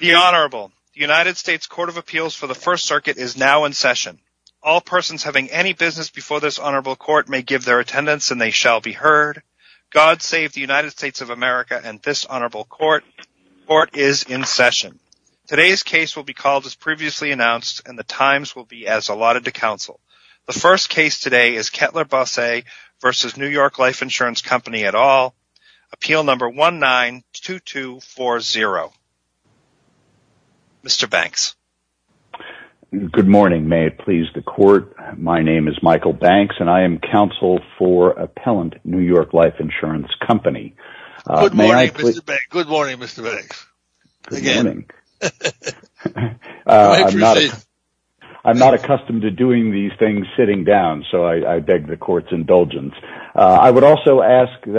The Honorable United States Court of Appeals for the First Circuit is now in session. All persons having any business before this Honorable Court may give their attendance and they shall be heard. God save the United States of America and this Honorable Court is in session. Today's case will be called as previously announced and the times will be as allotted to counsel. The first case today is Kettler-Bosse v. New York Life Insurance Company et al. Appeal number 192240. Mr. Banks. Good morning, may it please the court. My name is Michael Banks and I am counsel for appellant New York Life Insurance Company. I'm not accustomed to doing these things sitting down so I beg the court to grant me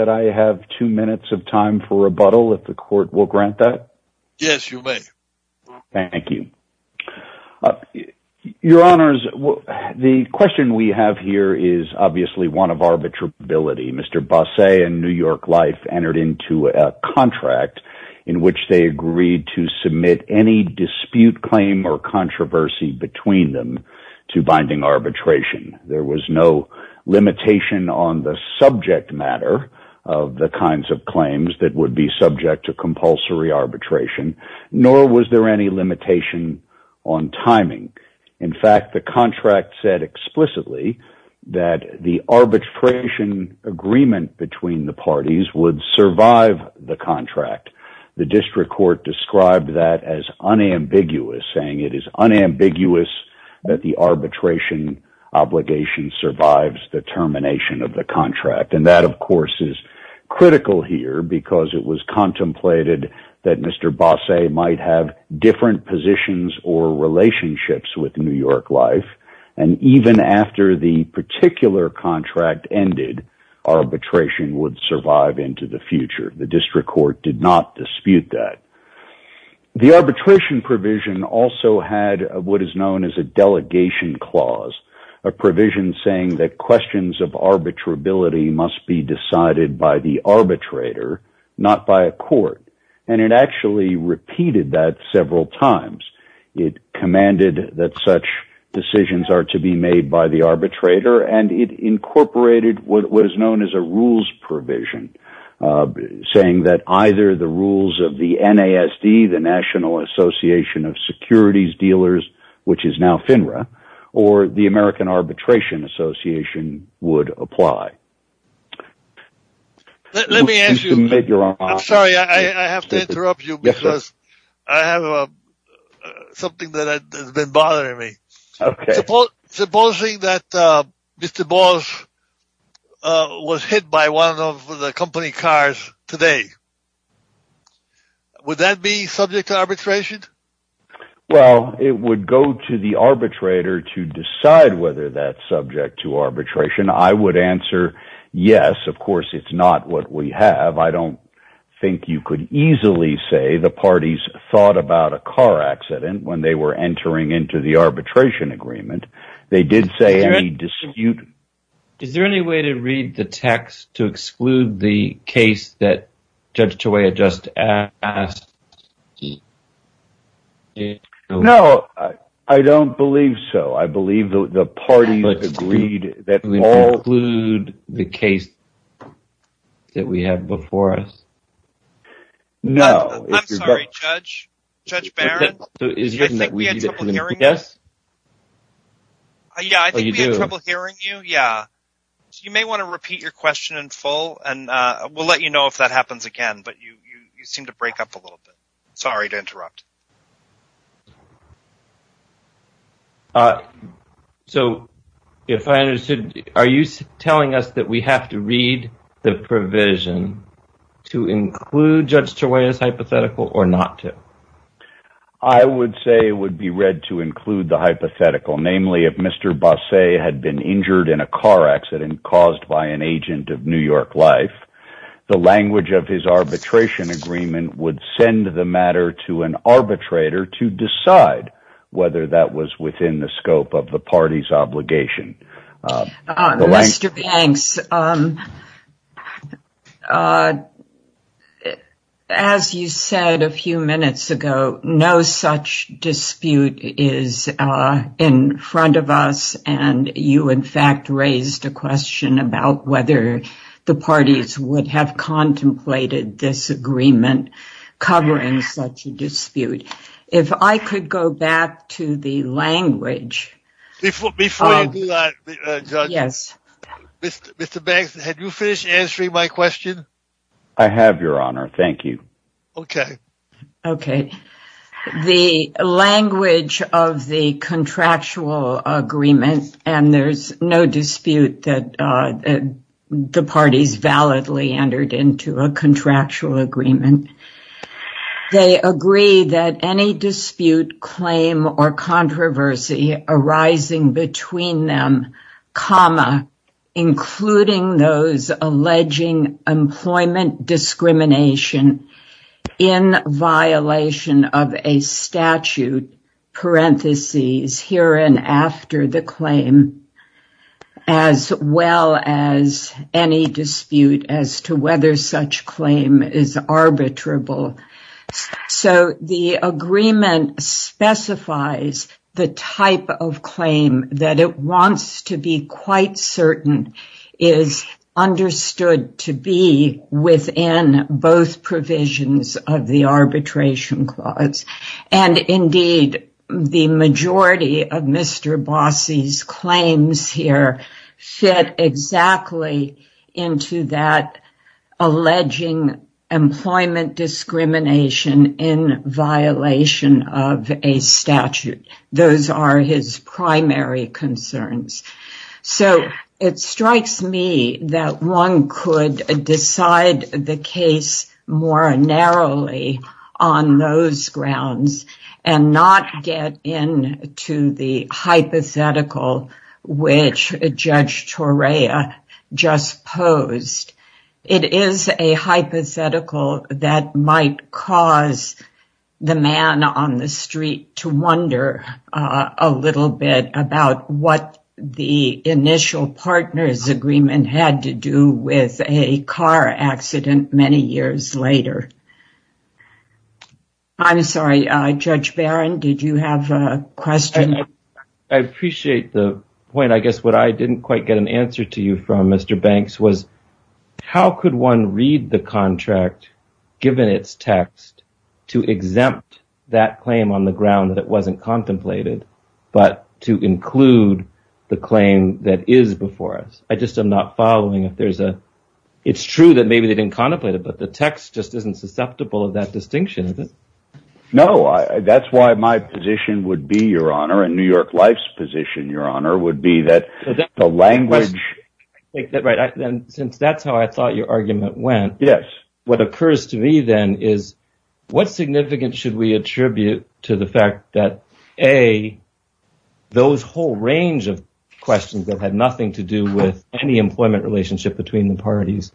two minutes of time for rebuttal. Yes, you may. Thank you. Your Honors, the question we have here is obviously one of arbitrability. Mr. Bosse and New York Life entered into a contract in which they agreed to submit any dispute claim or controversy between them to binding arbitration. There was no limitation on the subject matter of the kinds of claims that would be subject to compulsory arbitration nor was there any limitation on timing. In fact, the contract said explicitly that the arbitration agreement between the parties would survive the contract. The district court described that as unambiguous saying it is unambiguous that the arbitration obligation survives the termination of the contract and that of course is critical here because it was contemplated that Mr. Bosse might have different positions or relationships with New York Life and even after the particular contract ended, arbitration would survive into the future. The district court did not dispute that. The contract also had what is known as a delegation clause, a provision saying that questions of arbitrability must be decided by the arbitrator not by a court and it actually repeated that several times. It commanded that such decisions are to be made by the arbitrator and it incorporated what was known as a rules provision saying that either the rules of the NASD, the National Association of Securities Dealers which is now FINRA or the American Arbitration Association would apply. Let me ask you, I'm sorry I have to interrupt you because I have something that has been bothering me. Supposing that Mr. Bosse was hit by one of the company cars today, would that be subject to arbitration? Well it would go to the arbitrator to decide whether that's subject to arbitration. I would answer yes, of course it's not what we have. I don't think you could easily say the parties thought about a car accident when they were entering into the arbitration agreement. They did say any dispute. Is there any way to read the text to exclude the case that Judge Chiawea just asked? No, I don't believe so. I believe the parties agreed that we all include the case that we have before us. No. I'm sorry, Judge Barron, I think we had trouble hearing you. Yeah, I think we had trouble hearing you. You may want to repeat your question in full and we'll let you know if that happens again, but you seem to break up a little bit. Sorry to interrupt. Are you telling us that we have to read the provision to include Judge Chiawea's hypothetical or not to? I would say it would be read to include the hypothetical, namely if Mr. Bosset had been injured in a car accident caused by an agent of New York life, the language of his arbitration agreement would send the matter to an arbitrator to decide whether that was within the scope of the party's obligation. Mr. Banks, as you said a few minutes ago, no such dispute is in front of us and you in fact raised a question about whether the parties would have contemplated this agreement covering such a dispute. If I could go back to the question, Mr. Banks, have you finished answering my question? I have, Your Honor. Thank you. Okay. Okay. The language of the contractual agreement, and there's no dispute that the parties validly entered into a contractual agreement, they agree that any dispute, claim, or controversy arising between them, comma, including those alleging employment discrimination in violation of a statute, parentheses, herein after the claim, as well as any dispute as to whether such claim is valid. The agreement specifies the type of claim that it wants to be quite certain is understood to be within both provisions of the Arbitration Clause. And indeed, the majority of Mr. Bossie's claims here fit exactly into that alleging employment discrimination in violation of a statute. Those are his primary concerns. So, it strikes me that one could decide the case more narrowly on those grounds and not get into the hypothetical which Judge Torea just posed. It is a hypothetical that might cause the man on the street to wonder a little bit about what the initial partners' agreement had to do with a car accident many years later. I'm sorry, Judge Barron, did you have a question? I appreciate the point. I guess what I didn't quite get an answer to you from, Mr. Banks, was how could one read the contract, given its text, to exempt that claim on the ground that it wasn't contemplated, but to include the claim that is before us? I just am not following if there's a... It's true that maybe they didn't contemplate it, but the text just isn't susceptible of that distinction, is it? No, that's why my position would be, Your Honor, and New York Life's position, Your Honor, would be that the language... Since that's how I thought your argument went, what occurs to me then is what significance should we attribute to the fact that, A, those whole range of questions that had nothing to do with any employment relationship between the parties,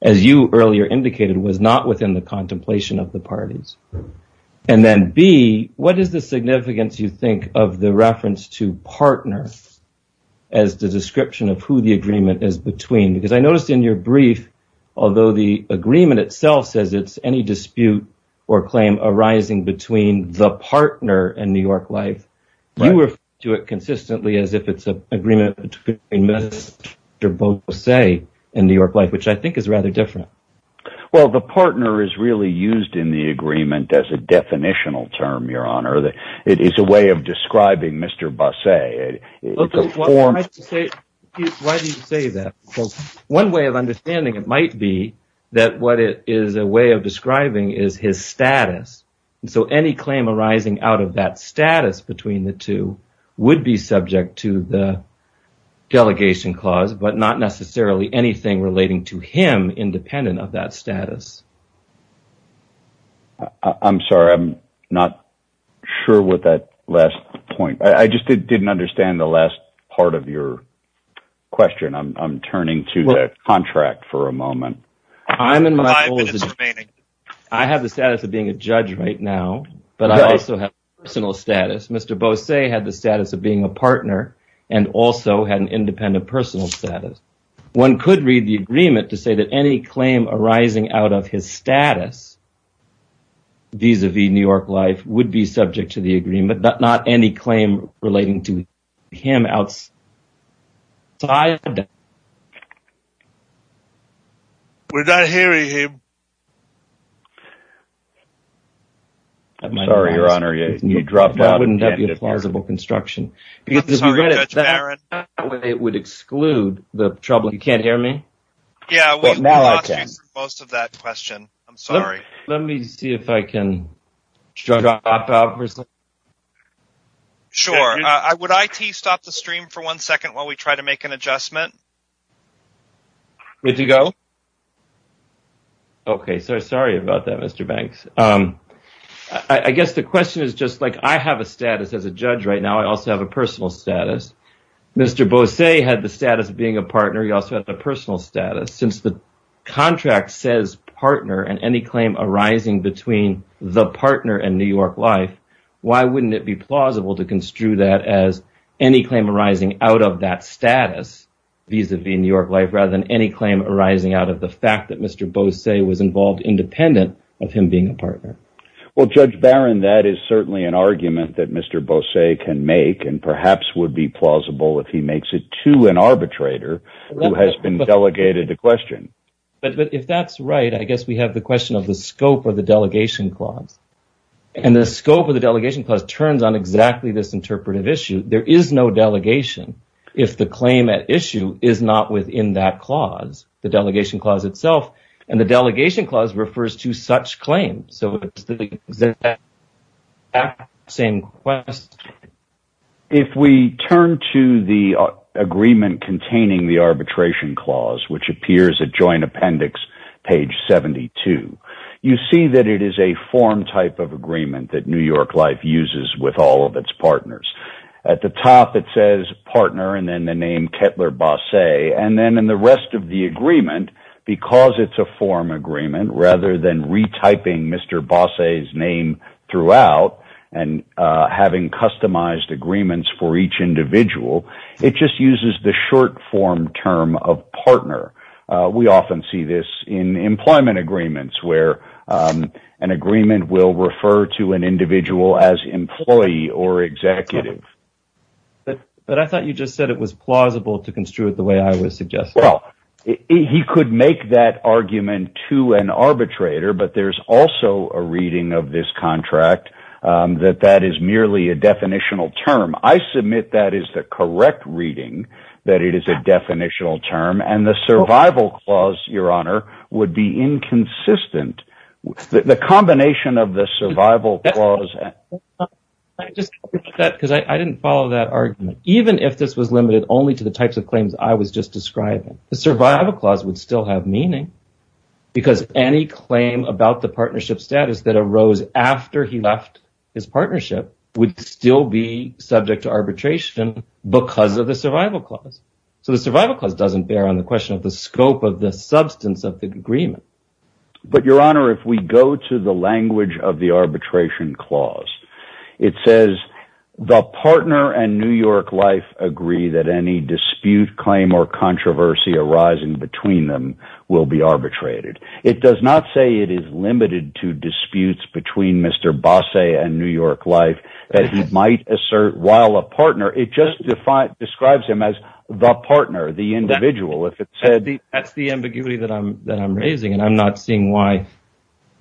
as you earlier indicated, was not within the contemplation of the parties? And then, B, what is the significance, you think, of the reference to partner as the description of who the agreement is between? Because I noticed in your brief, although the agreement itself says it's any dispute or claim arising between the partner and New York Life, you refer to it consistently as if it's an agreement between Mr. Bosse and New York Life, which I think is rather different. Well, the partner is really used in the agreement as a definitional term, Your Honor. It is a way of describing Mr. Bosse. Why do you say that? One way of understanding it might be that what it is a way of describing is his status, so any claim arising out of that status between the two would be subject to the delegation clause, but not necessarily anything relating to him independent of that status. I'm sorry, I'm not sure what that last point, I just didn't understand the last part of your question. I'm turning to the contract for a moment. I have the status of being a judge right now, but I also have personal status. Mr. Bosse had the status of being a partner and also had an independent personal status. One could read the agreement to say that any claim arising out of his status vis-a-vis New York Life would be subject to the agreement, but not any claim relating to him outside. We're not hearing him. Sorry, Your Honor, you dropped out. That wouldn't be a plausible construction. I'm sorry, Judge Barron. It would exclude the trouble. You can't hear me? Yeah, we lost you for most of that question. I'm sorry. Let me see if I can drop out for a second. Sure. Would IT stop the stream for one second while we try to make an adjustment? Good to go? Okay, so sorry about that, Mr. Banks. I guess the question is just, like, I have a status as a judge right now. I also have a personal status. Mr. Bosse had the status of being a partner. He also had the personal status. Since the contract says partner and any claim arising between the partner and New York Life, why wouldn't it be plausible to construe that as any claim arising out of that status vis-a-vis New York Life rather than any claim arising out of the fact that Mr. Bosse was involved independent of him being a partner? Well, Judge Barron, that is certainly an argument that Mr. Bosse can make and perhaps would be plausible if he makes it to an arbitrator who has been delegated a question. But if that's right, I guess we have the question of the scope of the delegation clause. And the scope of the delegation clause turns on exactly this interpretive issue. There is no delegation if the claim at issue is not within that clause, the delegation clause itself. And the delegation clause refers to such claims. So it's the exact same question. If we turn to the agreement containing the arbitration clause, which appears at Joint Appendix page 72, you see that it is a form type of agreement that New York Life uses with all of its partners. At the top, it says partner and then the name Kettler-Bosse. And then in the rest of the agreement, because it's a form agreement, rather than retyping Mr. Bosse's name throughout and having customized agreements for each individual, it just uses the short form term of partner. We often see this in employment agreements where an agreement will refer to an individual as employee or executive. But I thought you just said it was plausible to construe it the way I would suggest. Well, he could make that argument to an arbitrator, but there's also a reading of this contract that that is merely a definitional term. I submit that is the correct reading, that it is a definitional term. And the survival clause, Your Honor, would be inconsistent. The combination of the survival clause. I just think that because I didn't follow that argument, even if this was limited only to the types of claims I was just describing, the survival clause would still have meaning because any claim about the partnership status that arose after he left his partnership would still be subject to arbitration because of the survival clause. So the survival clause doesn't bear on the question of the scope of the substance of the agreement. But Your Honor, if we go to the language of the arbitration clause, it says the partner and New York Life agree that any dispute claim or controversy arising between them will be arbitrated. It does not say it is limited to disputes between Mr. Bosset and New York Life that he might assert while a partner. It just describes him as the partner, the individual. That's the ambiguity that I'm that I'm raising, and I'm not seeing why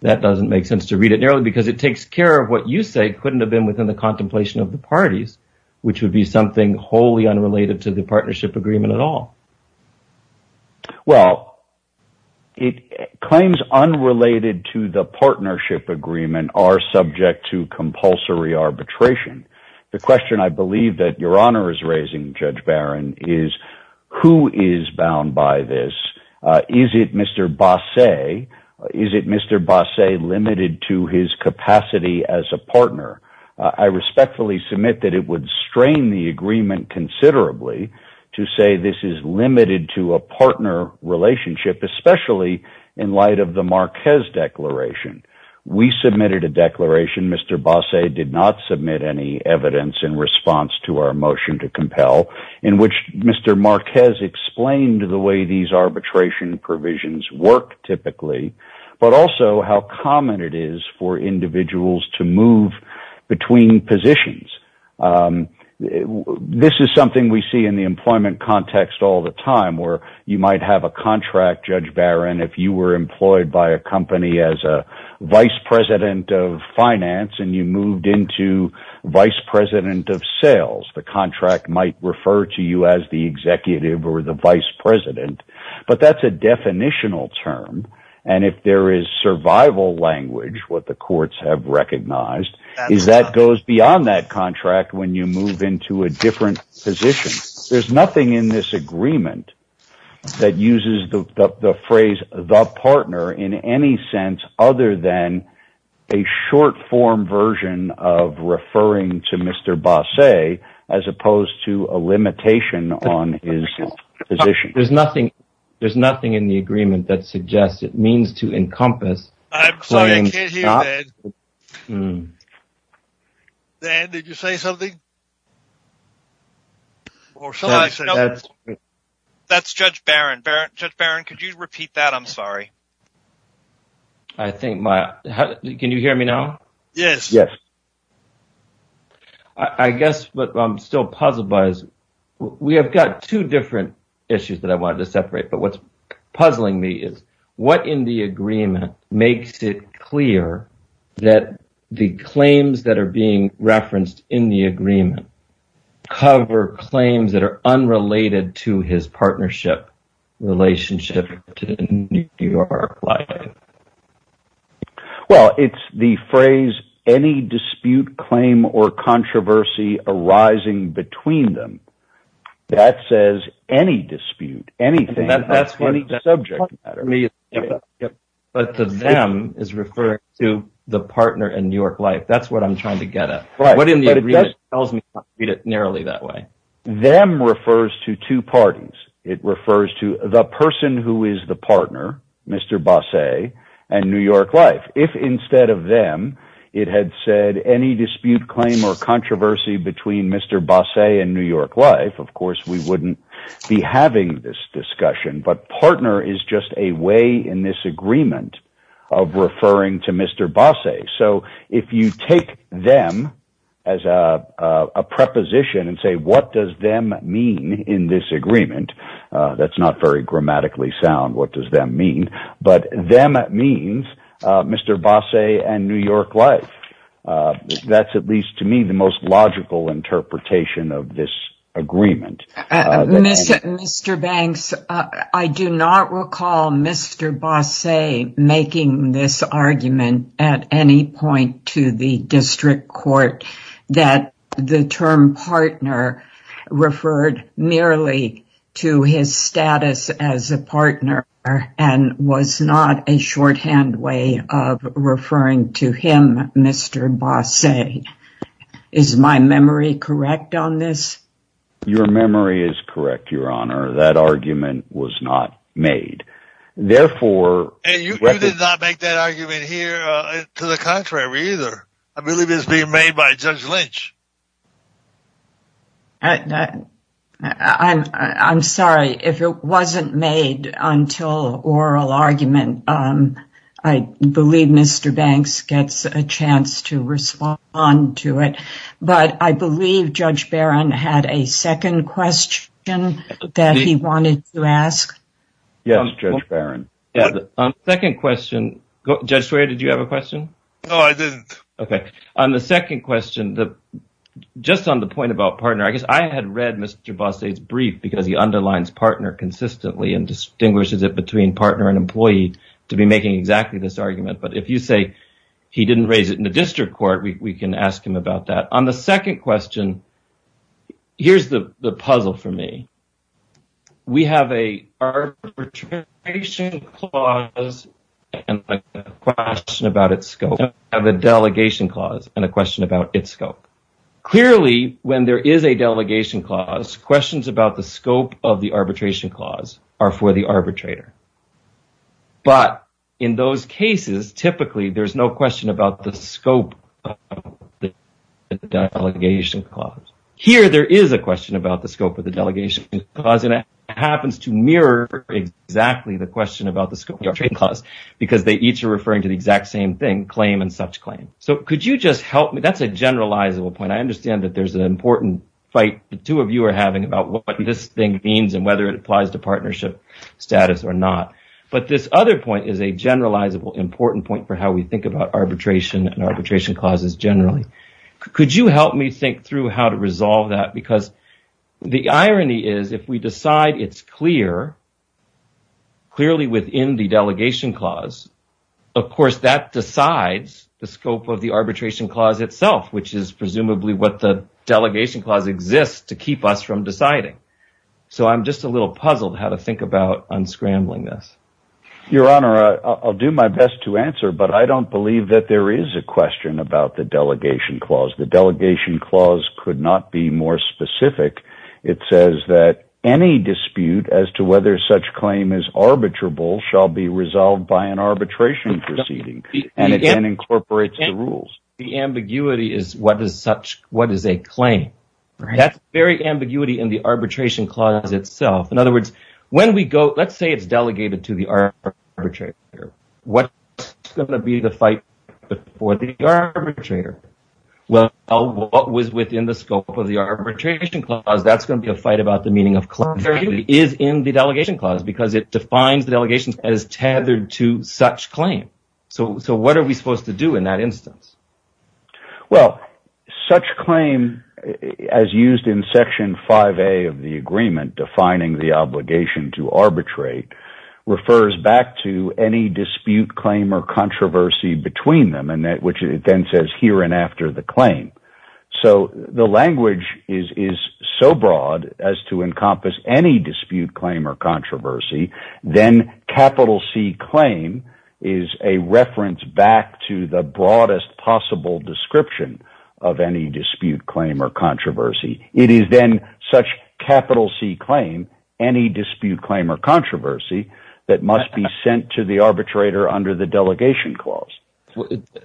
that doesn't make sense to read it nearly because it takes care of what you say couldn't have been within the contemplation of the parties, which would be something wholly unrelated to the partnership agreement at all. Well, it claims unrelated to the partnership agreement are subject to compulsory arbitration. The question I believe that Your Honor is raising, Judge Barron, is who is bound by this? Is it Mr. Bosset? Is it Mr. Bosset limited to his capacity as a partner? I respectfully submit that it would strain the agreement considerably to say this is limited to a partner relationship, especially in light of the Marquez Declaration. We submitted a declaration. Mr. Bosset did not submit any evidence in response to our motion to compel, in which Mr. Marquez explained the way these arbitration provisions work typically, but also how common it is for individuals to move between positions. This is something we see in the employment context all the time where you might have a contract, if you were employed by a company as a vice president of finance and you moved into vice president of sales. The contract might refer to you as the executive or the vice president, but that's a definitional term, and if there is survival language, what the courts have recognized, is that goes beyond that contract when you move into a different position. There's nothing in this agreement that uses the phrase, the partner, in any sense other than a short form version of referring to Mr. Bosset as opposed to a limitation on his position. There's nothing in the agreement that suggests it means to encompass... I'm sorry, I can't hear, Dan. Dan, did you say something? Sorry. That's Judge Barron. Judge Barron, could you repeat that? I'm sorry. I think my... Can you hear me now? Yes. I guess what I'm still puzzled by is we have got two different issues that I wanted to separate, but what's puzzling me is what in the agreement makes it clear that the claims that are being unrelated to his partnership relationship to New York Life? Well, it's the phrase, any dispute, claim, or controversy arising between them. That says any dispute, anything, any subject matter. But the them is referring to the partner in New York Life. That's what I'm trying to get at. What in the agreement tells me to read it narrowly that way? Them refers to two parties. It refers to the person who is the partner, Mr. Bosset, and New York Life. If instead of them, it had said any dispute, claim, or controversy between Mr. Bosset and New York Life, of course, we wouldn't be having this discussion. But partner is just a way in this agreement of referring to Mr. Bosset. So if you take them as a preposition and say, what does them mean in this agreement? That's not very grammatically sound. What does them mean? But them means Mr. Bosset and New York Life. That's at least to me the most logical interpretation of this agreement. Mr. Banks, I do not recall Mr. Bosset making this argument at any point to the district court that the term partner referred merely to his status as a partner and was not a shorthand way of referring to him, Mr. Bosset. Is my memory correct on this? Your memory is correct, Your Honor. That argument was not made. Therefore, you did not make that argument here to the contrary either. I believe it's being made by Judge Lynch. I'm sorry. If it wasn't made until oral argument, I believe Mr. Banks gets a chance to respond to it. But I believe Judge Barron had a second question that he wanted to ask. Yes, Judge Barron. Judge Swearer, did you have a question? No, I didn't. Okay. On the second question, just on the point about partner, I guess I had read Mr. Bosset's brief because he underlines partner consistently and distinguishes it between partner and employee to be making exactly this argument. But if you say he didn't raise it in the district court, we can ask him about that. On the second question, here's the puzzle for me. We have an arbitration clause and a question about its scope. We have a delegation clause and a question about its scope. Clearly, when there is a delegation clause, questions about the scope of the arbitration clause are for the arbitrator. But in those cases, typically, there's no question about the scope of the delegation clause. Here, there is a question about the scope of the delegation clause and it happens to mirror exactly the question about the scope of the arbitration clause because they each are referring to the exact same thing, claim and such claim. So could you just help me? That's a generalizable point. I understand that there's an important fight the two of you are having about what this thing means and whether it applies to partnership status or not. But this other point is a generalizable important point for how we think about arbitration and arbitration clauses generally. Could you help me think through how to resolve that? Because the irony is if we decide it's clear, clearly within the delegation clause, of course, that decides the scope of the arbitration clause itself, which is presumably what the delegation clause exists to keep us from deciding. So I'm just a little puzzled how to about unscrambling this. Your Honor, I'll do my best to answer, but I don't believe that there is a question about the delegation clause. The delegation clause could not be more specific. It says that any dispute as to whether such claim is arbitrable shall be resolved by an arbitration proceeding and incorporates the rules. The ambiguity is what is a claim. That's very Let's say it's delegated to the arbitrator. What's going to be the fight for the arbitrator? Well, what was within the scope of the arbitration clause? That's going to be a fight about the meaning of clarity is in the delegation clause because it defines the delegation as tethered to such claim. So what are we supposed to do in that instance? Well, such claim as used in Section 5A of the agreement defining the obligation to arbitrate refers back to any dispute, claim or controversy between them, and that which it then says here and after the claim. So the language is so broad as to encompass any dispute, claim or controversy. Then capital C claim is a reference back to the broadest possible description of any dispute, claim or controversy. It is then such capital C claim, any dispute, claim or controversy that must be sent to the arbitrator under the delegation clause.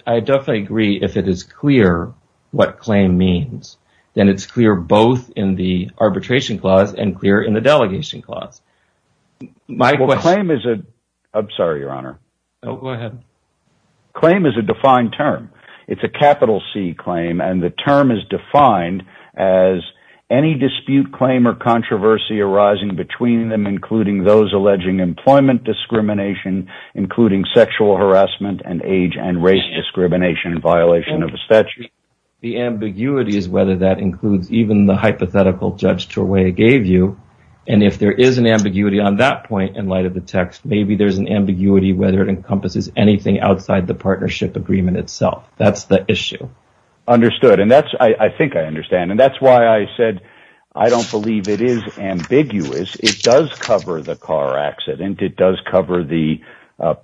I definitely agree if it is clear what claim means, then it's clear both in the arbitration clause and clear in the delegation clause. My claim is a I'm sorry, your honor. Go ahead. Claim is a defined term. It's a capital C claim, and the term is defined as any dispute, claim or controversy arising between them, including those alleging employment discrimination, including sexual harassment and age and race discrimination, violation of the statute. The ambiguity is whether that includes even the hypothetical judge to a way it gave you. And if there is an ambiguity on that point in light of the text, maybe there's an ambiguity whether it encompasses anything outside the partnership agreement itself. That's the issue. Understood. And that's I think I understand. And that's why I said I don't believe it is ambiguous. It does cover the car accident. It does cover the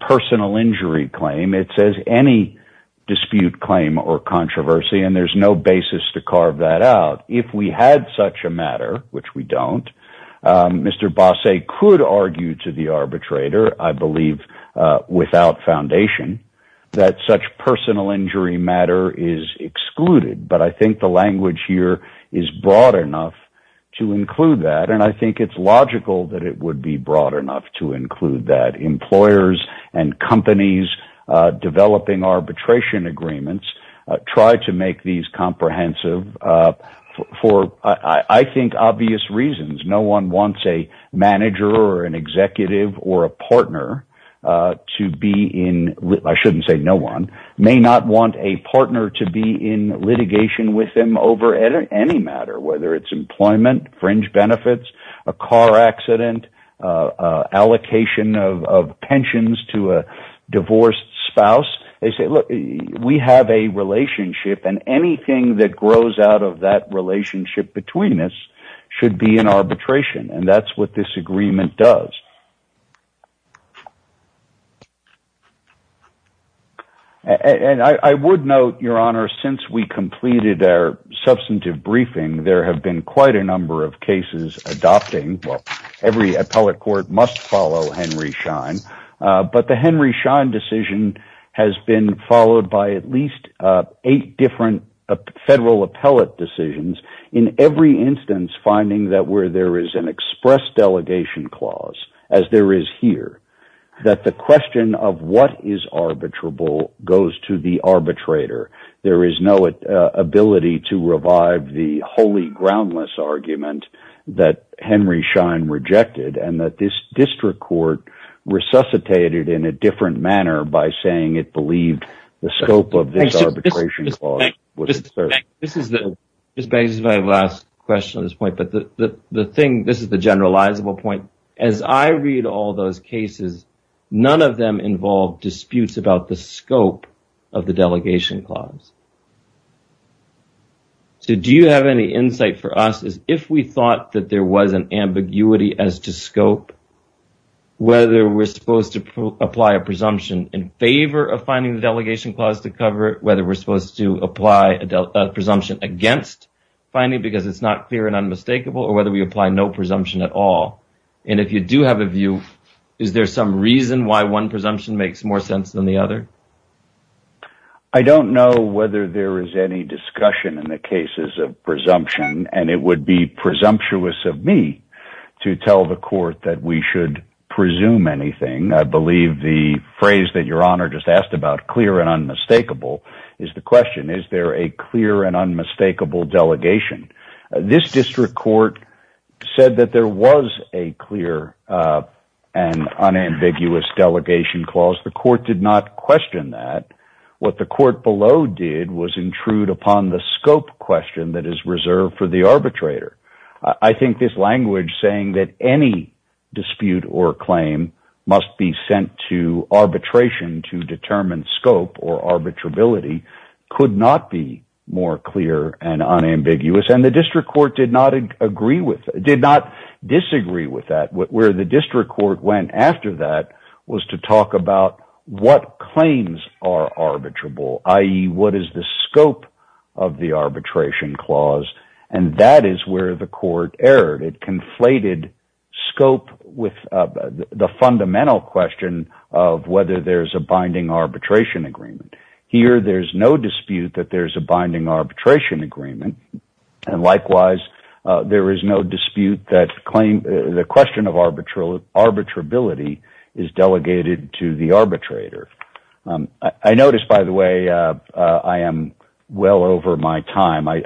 personal injury claim. It says any dispute, claim or controversy. And there's no basis to carve that out. If we had such a matter, which we don't, Mr. Bosset could argue to the arbitrator, I believe, without foundation that such personal injury matter is excluded. But I think the language here is broad enough to include that. And I think it's logical that it would be broad enough to include that employers and companies developing arbitration agreements try to make these comprehensive for, I think, obvious reasons. No one wants a manager or an executive or a partner to be in. I shouldn't say no one may not want a partner to be in litigation with them over any matter, whether it's employment, fringe benefits, a car accident, allocation of pensions to a relationship. And anything that grows out of that relationship between us should be in arbitration. And that's what this agreement does. And I would note, Your Honor, since we completed our substantive briefing, there have been quite a number of cases adopting every appellate court must follow Henry Schein. But the Henry Schein decision has been followed by at least eight different federal appellate decisions in every instance, finding that where there is an express delegation clause, as there is here, that the question of what is arbitrable goes to the arbitrator. There is no ability to revive the holy groundless argument that Henry Schein rejected and that this district court resuscitated in a manner by saying it believed the scope of this arbitration clause was certain. This is my last question on this point. But the thing, this is the generalizable point. As I read all those cases, none of them involve disputes about the scope of the delegation clause. So do you have any insight for us as if we thought that there was an ambiguity as to scope, whether we're supposed to apply a presumption in favor of finding the delegation clause to cover it, whether we're supposed to apply a presumption against finding because it's not clear and unmistakable, or whether we apply no presumption at all? And if you do have a view, is there some reason why one presumption makes more sense than the other? I don't know whether there is any discussion in the cases of presumption, and it would be presumptuous of me to tell the court that we should presume anything. I believe the phrase that Your Honor just asked about, clear and unmistakable, is the question. Is there a clear and unmistakable delegation? This district court said that there was a clear and unambiguous delegation clause. The court did not question that. What the court below did was intrude upon the scope question that is reserved for the arbitrator. I think this language saying that any dispute or claim must be sent to arbitration to determine scope or arbitrability could not be more clear and unambiguous, and the district court did not disagree with that. Where the district court went after that was to talk about what claims are arbitrable, i.e., what is the scope of the arbitration clause, and that is where the court erred. It conflated scope with the fundamental question of whether there is a binding arbitration agreement. Here, there is no dispute that there is a binding arbitration agreement, and likewise, there is no dispute that the question of arbitrability is delegated to the arbitrator. I notice, by the way, I am well over my time. I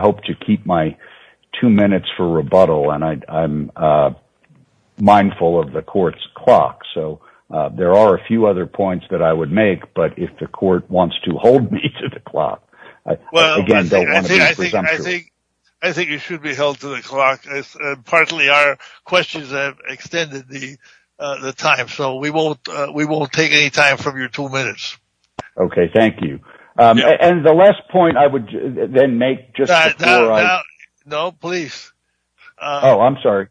hope to keep my two minutes for rebuttal, and I'm mindful of the court's clock, so there are a few other points that I would make, but if the court wants to hold me to the clock, I don't want to be presumptive. I think you should be held to the clock. Partly, our questions have extended the time, so we won't take any time from your two minutes. Okay, thank you. And the last point I would then make just before I... No, please. Oh, I'm sorry.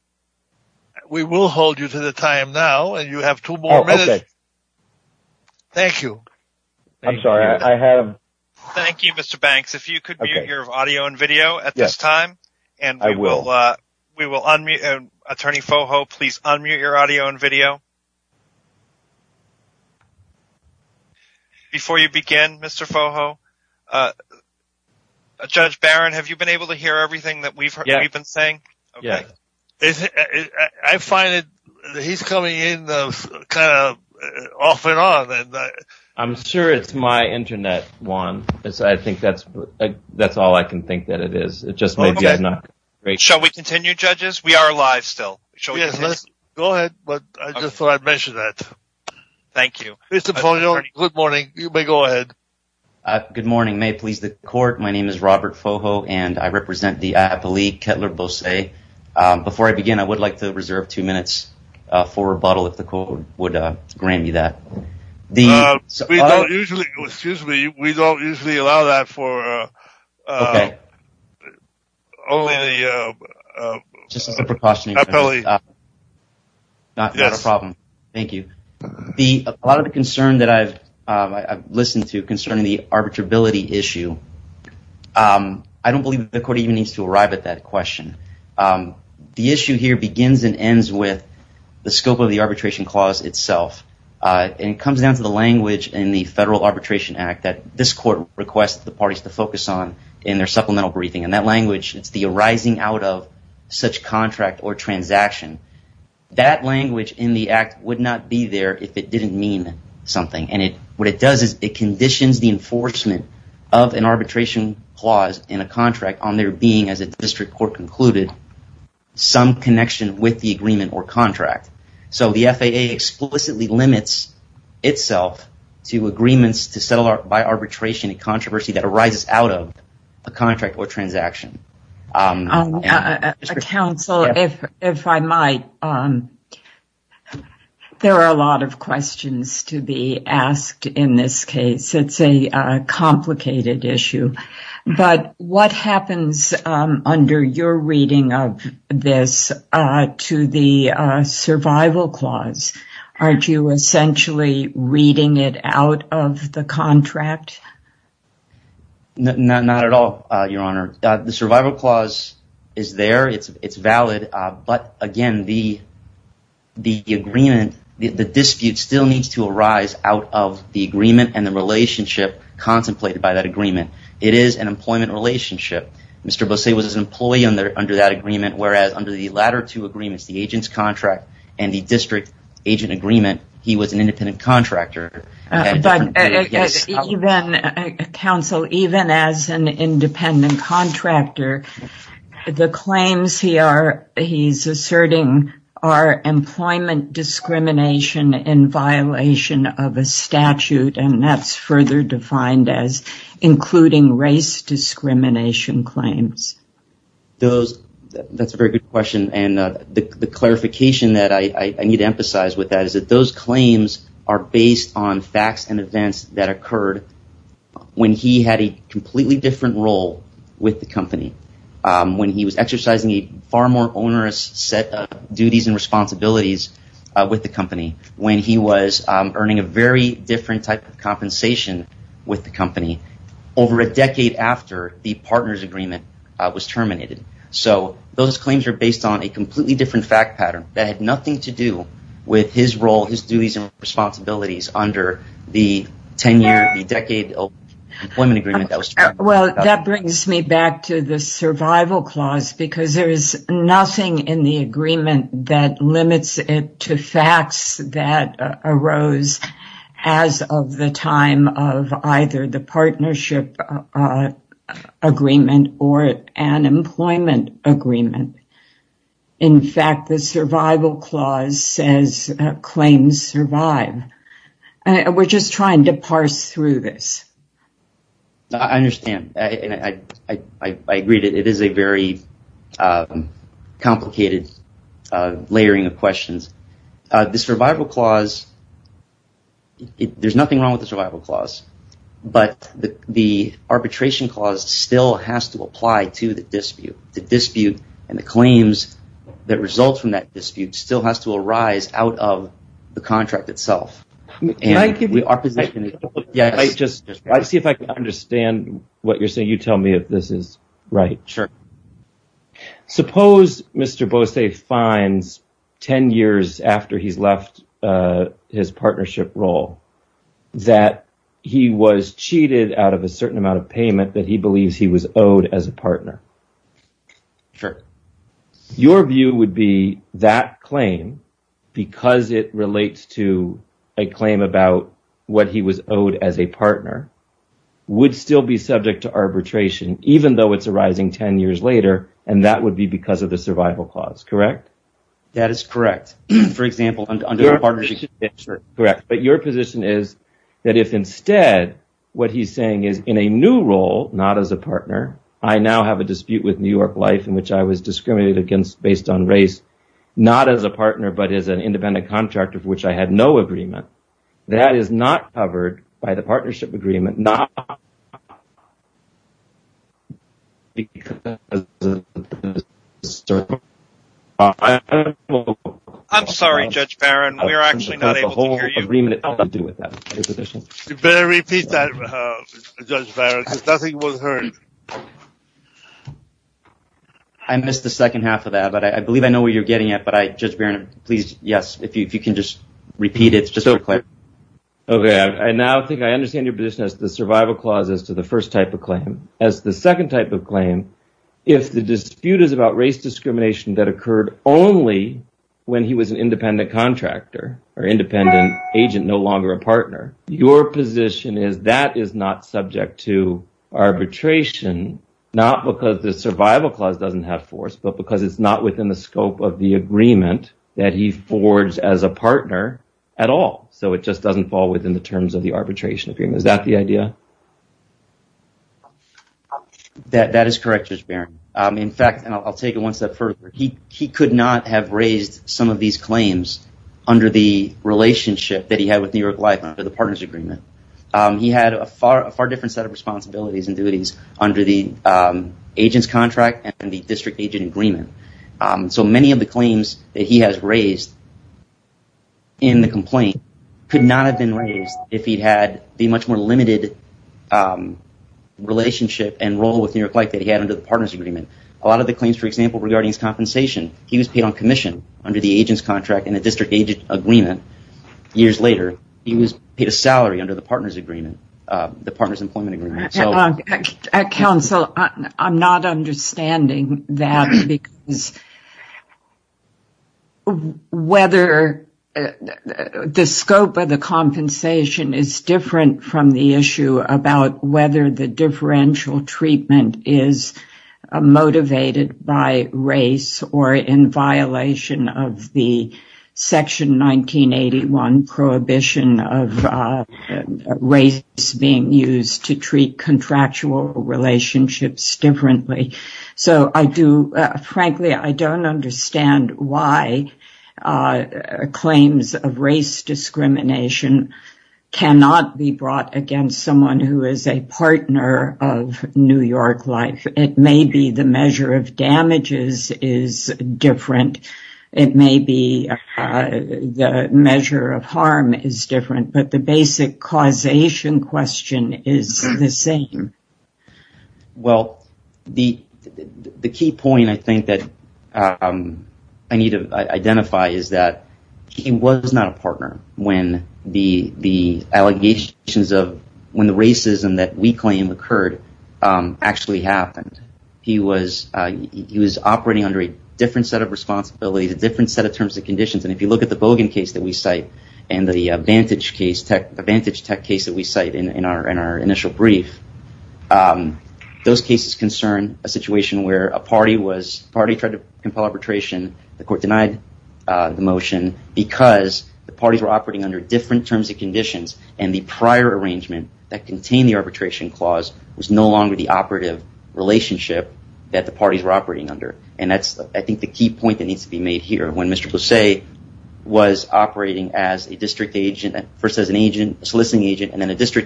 We will hold you to the time now, and you have two more minutes. Oh, okay. Thank you. I'm sorry, I have... Thank you, Mr. Banks. If you could mute your audio and video at this time, and we will unmute. Attorney Foho, please unmute your audio and video. Before you begin, Mr. Foho, Judge Barron, have you been able to hear everything that we've been saying? Yeah. I find that he's coming in kind of off and on. I'm sure it's my internet, Juan. I think that's all I can think that it is. Shall we continue, judges? We are live still. Go ahead, but I just thought I'd mention that. Thank you. Mr. Foho, good morning. You may go ahead. Good morning. May it please the court, my name is Robert Foho, and I represent the IAPA League, Kettler-Bosset. Before I begin, I would like to reserve two minutes for rebuttal if the court would grant me that. We don't usually... Excuse me. We don't usually allow that for only the... Just as a precautionary measure. Not a problem. Thank you. A lot of the concern that I've listened to concerning the arbitrability issue, I don't believe that the court even needs to arrive at that question. The issue here begins and ends with the scope of the arbitration clause itself. And it comes down to the language in the Federal Arbitration Act that this court requests the parties to focus on in their supplemental briefing. And that language, it's the arising out of such contract or transaction. That language in the act would not be there if it didn't mean something. And what it does is it conditions the enforcement of an arbitration clause in a contract on there being, as a district court concluded, some connection with the agreement or contract. So the FAA explicitly limits itself to agreements to settle by arbitration, a controversy that arises out of a contract or transaction. Counsel, if I might, there are a lot of questions to be asked in this case. It's a reading of this to the survival clause. Aren't you essentially reading it out of the contract? Not at all, Your Honor. The survival clause is there. It's valid. But again, the agreement, the dispute still needs to arise out of the agreement and the relationship contemplated by that agreement. It is an employment relationship. Mr. Bosay was an employee under that agreement, whereas under the latter two agreements, the agent's contract and the district agent agreement, he was an independent contractor. Counsel, even as an independent contractor, the claims he's asserting are employment discrimination in violation of a statute. And that's further defined as including race discrimination claims. That's a very good question. And the clarification that I need to emphasize with that is that those claims are based on facts and events that occurred when he had a completely different role with the company. When he was exercising a far more with the company, when he was earning a very different type of compensation with the company over a decade after the partner's agreement was terminated. So those claims are based on a completely different fact pattern that had nothing to do with his role, his duties and responsibilities under the 10-year, the decade of employment agreement that was terminated. Well, that brings me back to the survival clause because there is nothing in the agreement that facts that arose as of the time of either the partnership agreement or an employment agreement. In fact, the survival clause says claims survive. And we're just trying to parse through this. I understand. And I agree that it is a very complicated layering of questions. The survival clause, there's nothing wrong with the survival clause, but the arbitration clause still has to apply to the dispute. The dispute and the claims that result from that dispute still has to arise out of the contract itself. I see if I can understand what you're saying. You tell me if this is right. Sure. Suppose Mr. Bose finds 10 years after he's left his partnership role that he was cheated out of a certain amount of payment that he believes he was owed as a partner. Sure. Your view would be that claim, because it relates to a claim about what he was owed as a partner, would still be subject to arbitration, even though it's arising 10 years later. And that would be because of the survival clause, correct? That is correct. For example, correct. But your position is that if instead what he's saying is in a new role, not as a partner, I now have a dispute with New York Life in which I was discriminated against based on race, not as a partner, but as an independent contractor for which I had no agreement. That is not covered by the partnership agreement. I'm sorry, Judge Barron, we're actually not able to hear you. You better repeat that, Judge Barron, because nothing was heard. I missed the second half of that, but I believe I know where you're getting at, but I, Judge Barron, please, yes, if you can just repeat it. It's just so clear. Okay. I now think I understand your position as the survival clause as to the first type of claim. As the second type of claim, if the dispute is about race discrimination that occurred only when he was an independent contractor or independent agent, no longer a partner, your position is that is not subject to arbitration, not because the survival clause doesn't have force, but because it's not within the scope of the agreement that he forged as a partner at all. So it just doesn't fall within the terms of the arbitration agreement. Is that the idea? That is correct, Judge Barron. In fact, and I'll take it one step further. He had a far different set of responsibilities and duties under the agent's contract and the district agent agreement. So many of the claims that he has raised in the complaint could not have been raised if he'd had the much more limited relationship and role with New York Life that he had under the partner's agreement. A lot of the claims, for example, regarding his compensation, he was paid on commission under the agent's contract and the district agent agreement. Years later, he was paid a salary under the partner's employment agreement. Counsel, I'm not understanding that because whether the scope of the compensation is different from the issue about whether the differential treatment is motivated by race or in violation of the section 1981 prohibition of race being used to treat contractual relationships differently. So I do, frankly, I don't understand why claims of race discrimination cannot be brought against someone who is a partner of New York Life. It may be the measure of damages is different. It may be the measure of harm is different, but the basic causation question is the same. Well, the key point I think that I need to identify is that he was not a partner when the racism that we claim occurred actually happened. He was operating under a different set of responsibilities, a different set of terms and conditions. And if you look at the those cases concern a situation where a party tried to compel arbitration, the court denied the motion because the parties were operating under different terms and conditions. And the prior arrangement that contained the arbitration clause was no longer the operative relationship that the parties were operating under. And that's, I think, the key point that needs to be made here. When Mr. Busse was operating as a district agent, first as a district agent, he was not a partner.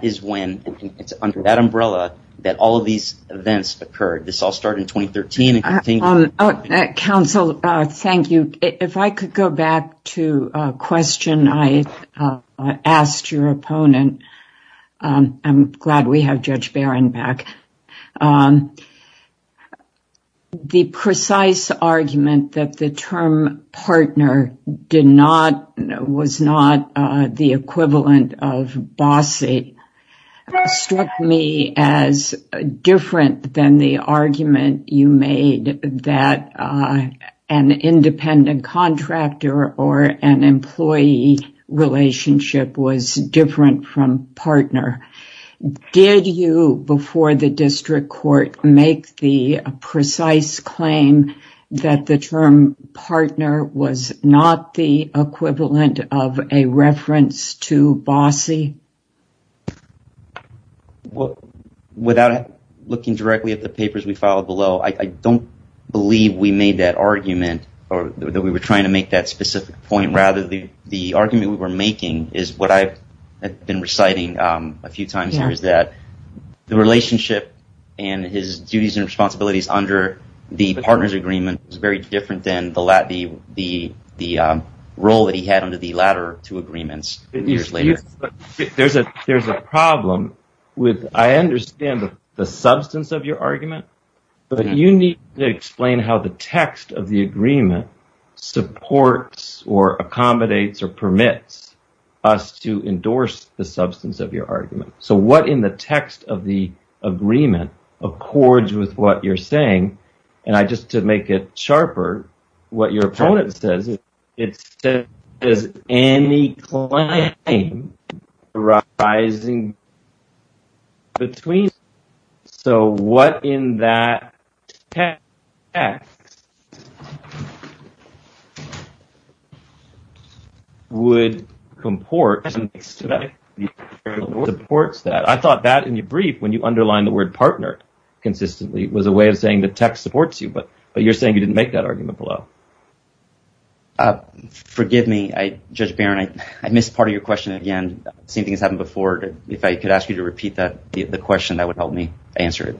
He was not a partner. He was not the equivalent of Busse. It struck me as different than the argument you made that an independent contractor or an employee relationship was different from partner. Did you, before the district court, make the precise claim that the term partner was not the equivalent of a reference to Busse? Well, without looking directly at the papers we filed below, I don't believe we made that argument or that we were trying to make that specific point. Rather, the argument we were making is what I've been reciting a few times here is that the relationship and his duties and responsibilities under the partners agreement was very different than the role that he had the latter two agreements years later. There's a problem with, I understand the substance of your argument, but you need to explain how the text of the agreement supports or accommodates or permits us to endorse the substance of your argument. So what in the text of the agreement accords with what you're saying? And just to make it sharper, what your opponent says is, it says, does any claim arising between, so what in that text would comport supports that? I thought that in your brief, when you underlined the word partner consistently, was a way of saying the text supports you, but you're saying you didn't make that argument below. Forgive me. I judge Baron. I missed part of your question. Again, same thing has happened before. If I could ask you to repeat that, the question that would help me answer it.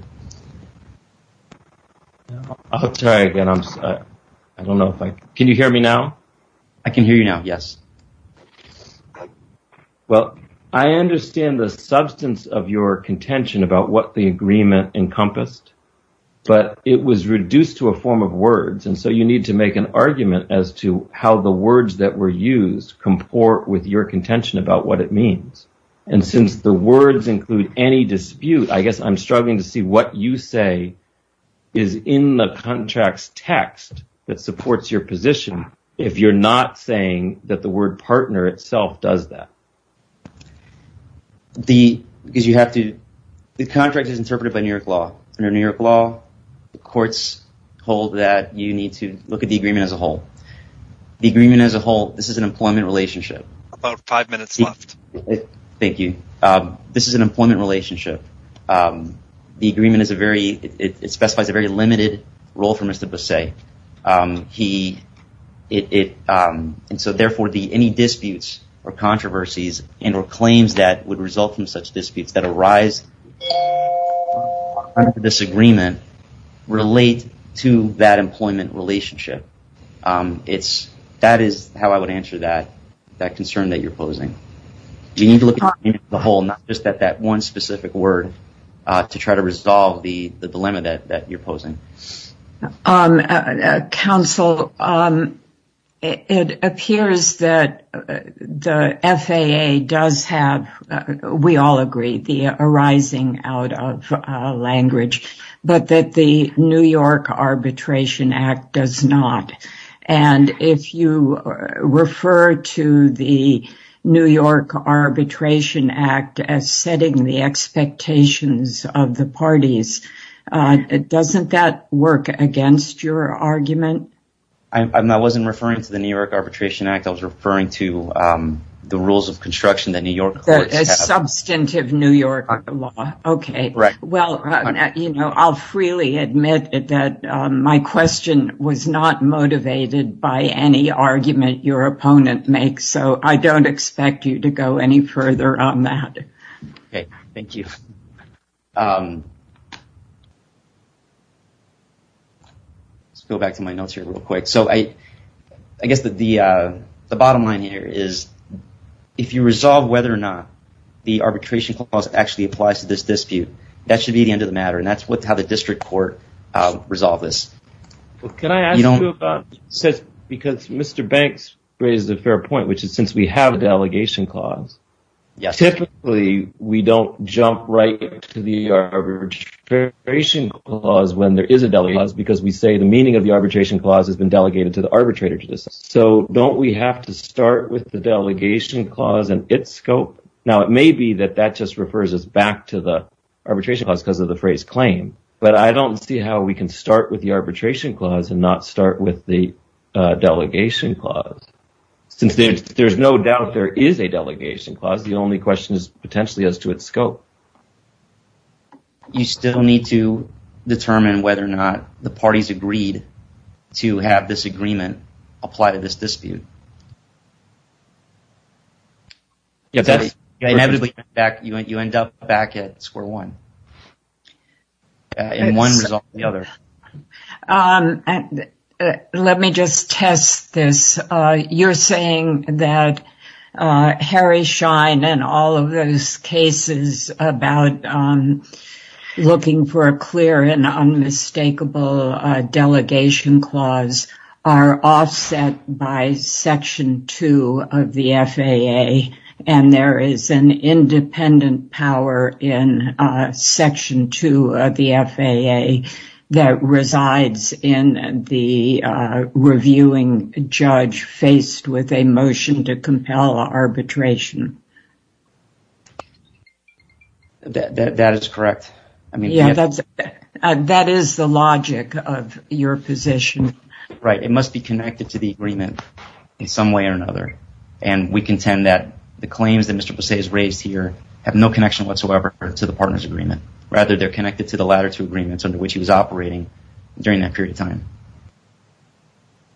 I'll try again. I'm sorry. I don't know if I, can you hear me now? I can hear you now. Yes. Well, I understand the substance of your contention about what the agreement encompassed, but it was reduced to a form of words. And so you need to make an argument as to how the words that were used comport with your contention about what it means. And since the words include any dispute, I guess I'm struggling to see what you say is in the contracts text that supports your position. If you're not saying that the word partner itself does that. Because you have to, the contract is interpreted by New York law. Under New York law, the courts hold that you need to look at the agreement as a whole. The agreement as a whole, this is an employment relationship. About five minutes left. Thank you. This is an employment relationship. The agreement is a very, it specifies a very claims that would result from such disputes that arise under this agreement relate to that employment relationship. That is how I would answer that concern that you're posing. You need to look at the whole, not just at that one specific word to try to resolve the dilemma that you're posing. Counsel, it appears that the FAA does have, we all agree, the arising out of language, but that the New York Arbitration Act does not. And if you refer to the New York Arbitration Act as setting the expectations of the parties, doesn't that work against your argument? I wasn't referring to the New York Arbitration Act. I was referring to the rules of construction that New York substantive New York law. Okay. Well, I'll freely admit that my question was not motivated by any argument your opponent makes. I don't expect you to go any further on that. Okay. Thank you. Let's go back to my notes here real quick. I guess the bottom line here is if you resolve whether or not the arbitration clause actually applies to this dispute, that should be the end of the matter. And that's how the district court resolve this. Well, can I ask you about, because Mr. Banks raised a fair point, which is since we have a delegation clause, typically we don't jump right to the arbitration clause when there is a delegation clause because we say the meaning of the arbitration clause has been delegated to the arbitrator. So don't we have to start with the delegation clause and its scope? Now, it may be that that just refers us back to the arbitration clause because of the phrase claim, but I don't see how we can start with the arbitration clause and not start with the delegation clause. Since there's no doubt there is a delegation clause, the only question is potentially as to its scope. You still need to determine whether or not the parties agreed to have this agreement apply to this dispute. Inevitably, you end up back at square one in one resolve to the other. Let me just test this. You're saying that Harry Schein and all of those cases about looking for a clear and unmistakable delegation clause are offset by some section two of the FAA, and there is an independent power in section two of the FAA that resides in the reviewing judge faced with a motion to compel arbitration? That is correct. Yeah, that is the logic of your position. Right. It must be connected to the agreement in some way or another, and we contend that the claims that Mr. Busse has raised here have no connection whatsoever to the partner's agreement. Rather, they're connected to the latter two agreements under which he was operating during that period of time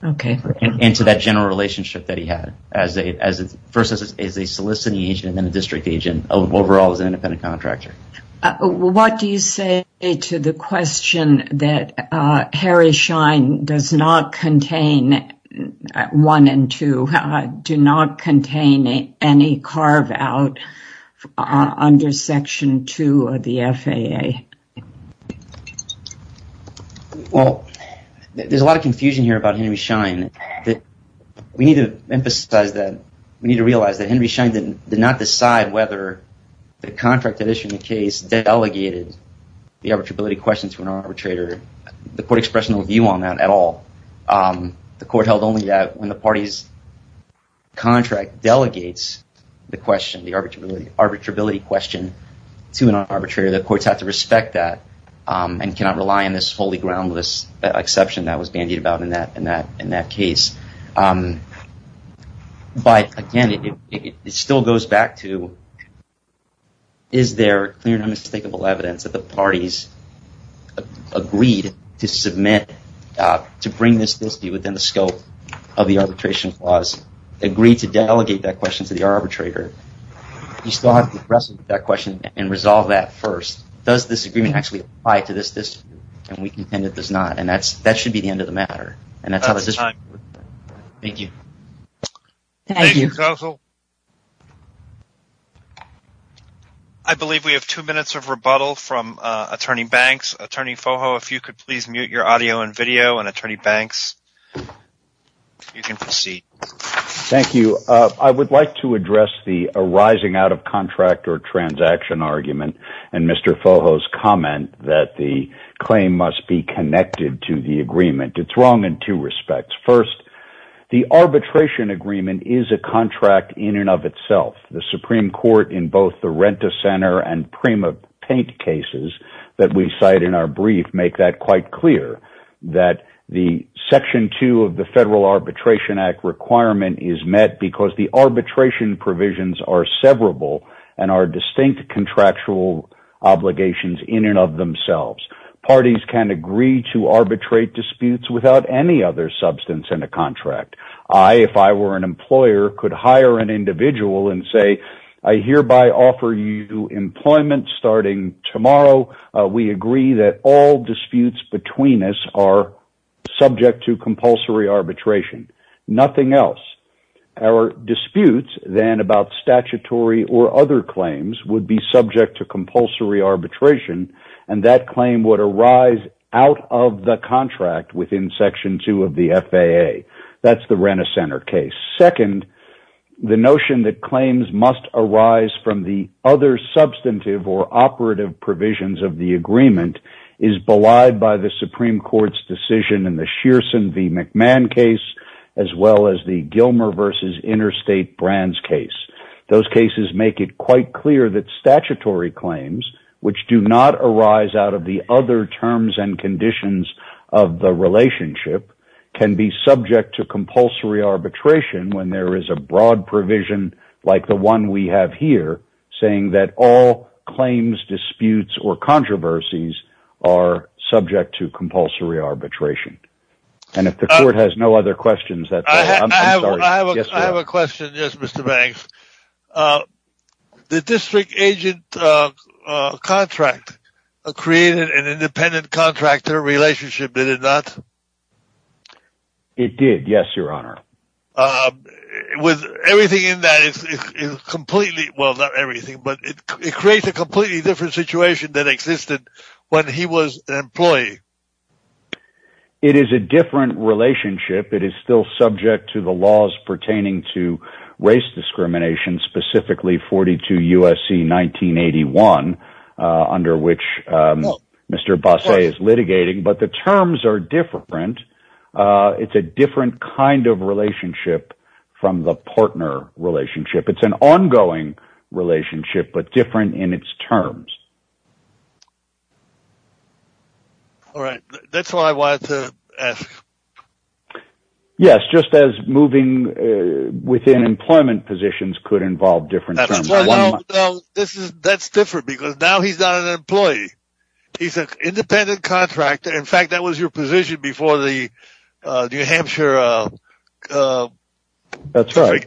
and to that general relationship that he had, first as a soliciting agent and then a district agent overall as an independent contractor. What do you say to the question that Harry Schein does not contain, one and two, do not contain any carve out under section two of the FAA? Well, there's a lot of confusion here about Henry Schein. We need to emphasize that. We need to delegated the arbitrability question to an arbitrator. The court express no view on that at all. The court held only that when the party's contract delegates the question, the arbitrability question to an arbitrator, the courts have to respect that and cannot rely on this wholly groundless exception that was bandied about in that case. But again, it still goes back to is there clear and unmistakable evidence that the parties agreed to bring this dispute within the scope of the arbitration clause, agreed to delegate that question to the arbitrator? You still have to wrestle with that question and resolve that first. Does this agreement actually apply to this dispute? We contend it does not. That should be the end of the matter. That's the time. Thank you. Thank you, counsel. I believe we have two minutes of rebuttal from Attorney Banks. Attorney Foho, if you could please mute your audio and video and Attorney Banks, you can proceed. Thank you. I would like to address the arising out of contract or transaction argument and Mr. Foho's comment that the claim must be connected to the agreement. It's wrong in two respects. First, the arbitration agreement is a contract in and of itself. The Supreme Court, in both the Renta Center and Prima Paint cases that we cite in our brief, make that quite clear that the Section 2 of the Federal Arbitration Act requirement is met because the arbitration obligations in and of themselves. Parties can agree to arbitrate disputes without any other substance in a contract. I, if I were an employer, could hire an individual and say, I hereby offer you employment starting tomorrow. We agree that all disputes between us are subject to compulsory arbitration. Nothing else. Our disputes then about statutory or other claims would be subject to compulsory arbitration and that claim would arise out of the contract within Section 2 of the FAA. That's the Renta Center case. Second, the notion that claims must arise from the other substantive or operative provisions of the agreement is belied by the Supreme Court's decision in the Shearson v. McMahon case as well as the Gilmer v. Interstate Brands case. Those cases make it quite clear that statutory claims, which do not arise out of the other terms and conditions of the relationship, can be subject to compulsory arbitration when there is a broad provision like the one we have here saying that all claims, disputes, or controversies are subject to compulsory arbitration. And if the Court has no other Mr. Banks, the district agent contract created an independent contractor relationship, did it not? It did, yes, your honor. With everything in that is completely, well, not everything, but it creates a completely different situation than existed when he was an employee. It is a different relationship. It is subject to the laws pertaining to race discrimination, specifically 42 U.S.C. 1981, under which Mr. Bosset is litigating, but the terms are different. It's a different kind of relationship from the partner relationship. It's an ongoing relationship, but different in its terms. All right, that's all I wanted to ask. Yes, just as moving within employment positions could involve different terms. That's different because now he's not an employee. He's an independent contractor. In fact, that was your position before the New Hampshire... That's right,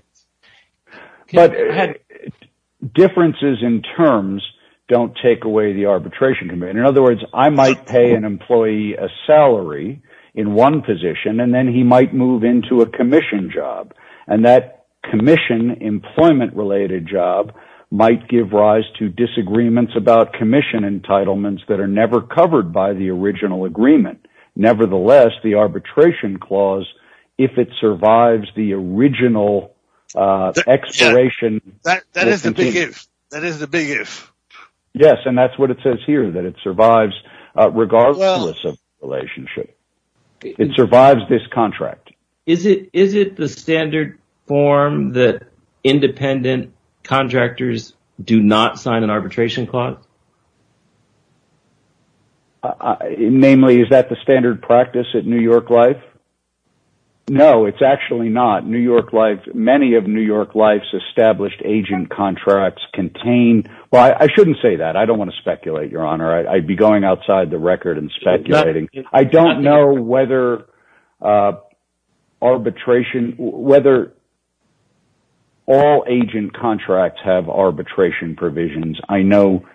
but differences in terms don't take away the arbitration. In other words, I might pay an employee a salary in one position, and then he might move into a commission job, and that commission employment-related job might give rise to disagreements about commission entitlements that are never covered by the original agreement. Nevertheless, the arbitration clause, if it survives the original expiration... That is the big if. Yes, and that's what it says here, that it survives regardless of relationship. It survives this contract. Is it the standard form that independent contractors do not sign an arbitration clause? Namely, is that the standard practice at New York Life? No, it's actually not. Many of New York Life's established agent contracts contain... Well, I shouldn't say that. I don't want to speculate, Your Honor. I'd be going outside the record and speculating. I don't know whether all agent contracts have arbitration provisions. I know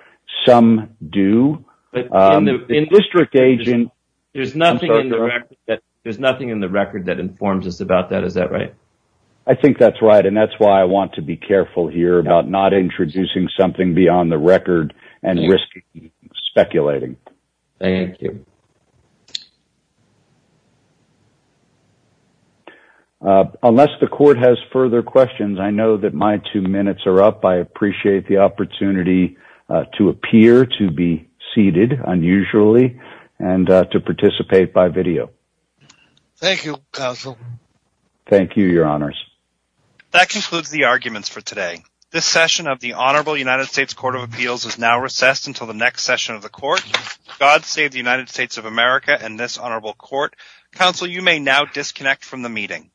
some do, but the district agent... There's nothing in the record that informs us about that. Is that right? I think that's right, and that's why I want to be careful here about not introducing something beyond the record and risking speculating. Thank you. Unless the court has further questions, I know that my two minutes are up. I appreciate the opportunity to appear, to be seated unusually, and to participate by video. Thank you, counsel. Thank you, Your Honors. That concludes the arguments for today. This session of the Honorable United States Court of Appeals is now recessed until the next session of the court. God save the United States of America and this honorable court. Counsel, you may now disconnect from the meeting.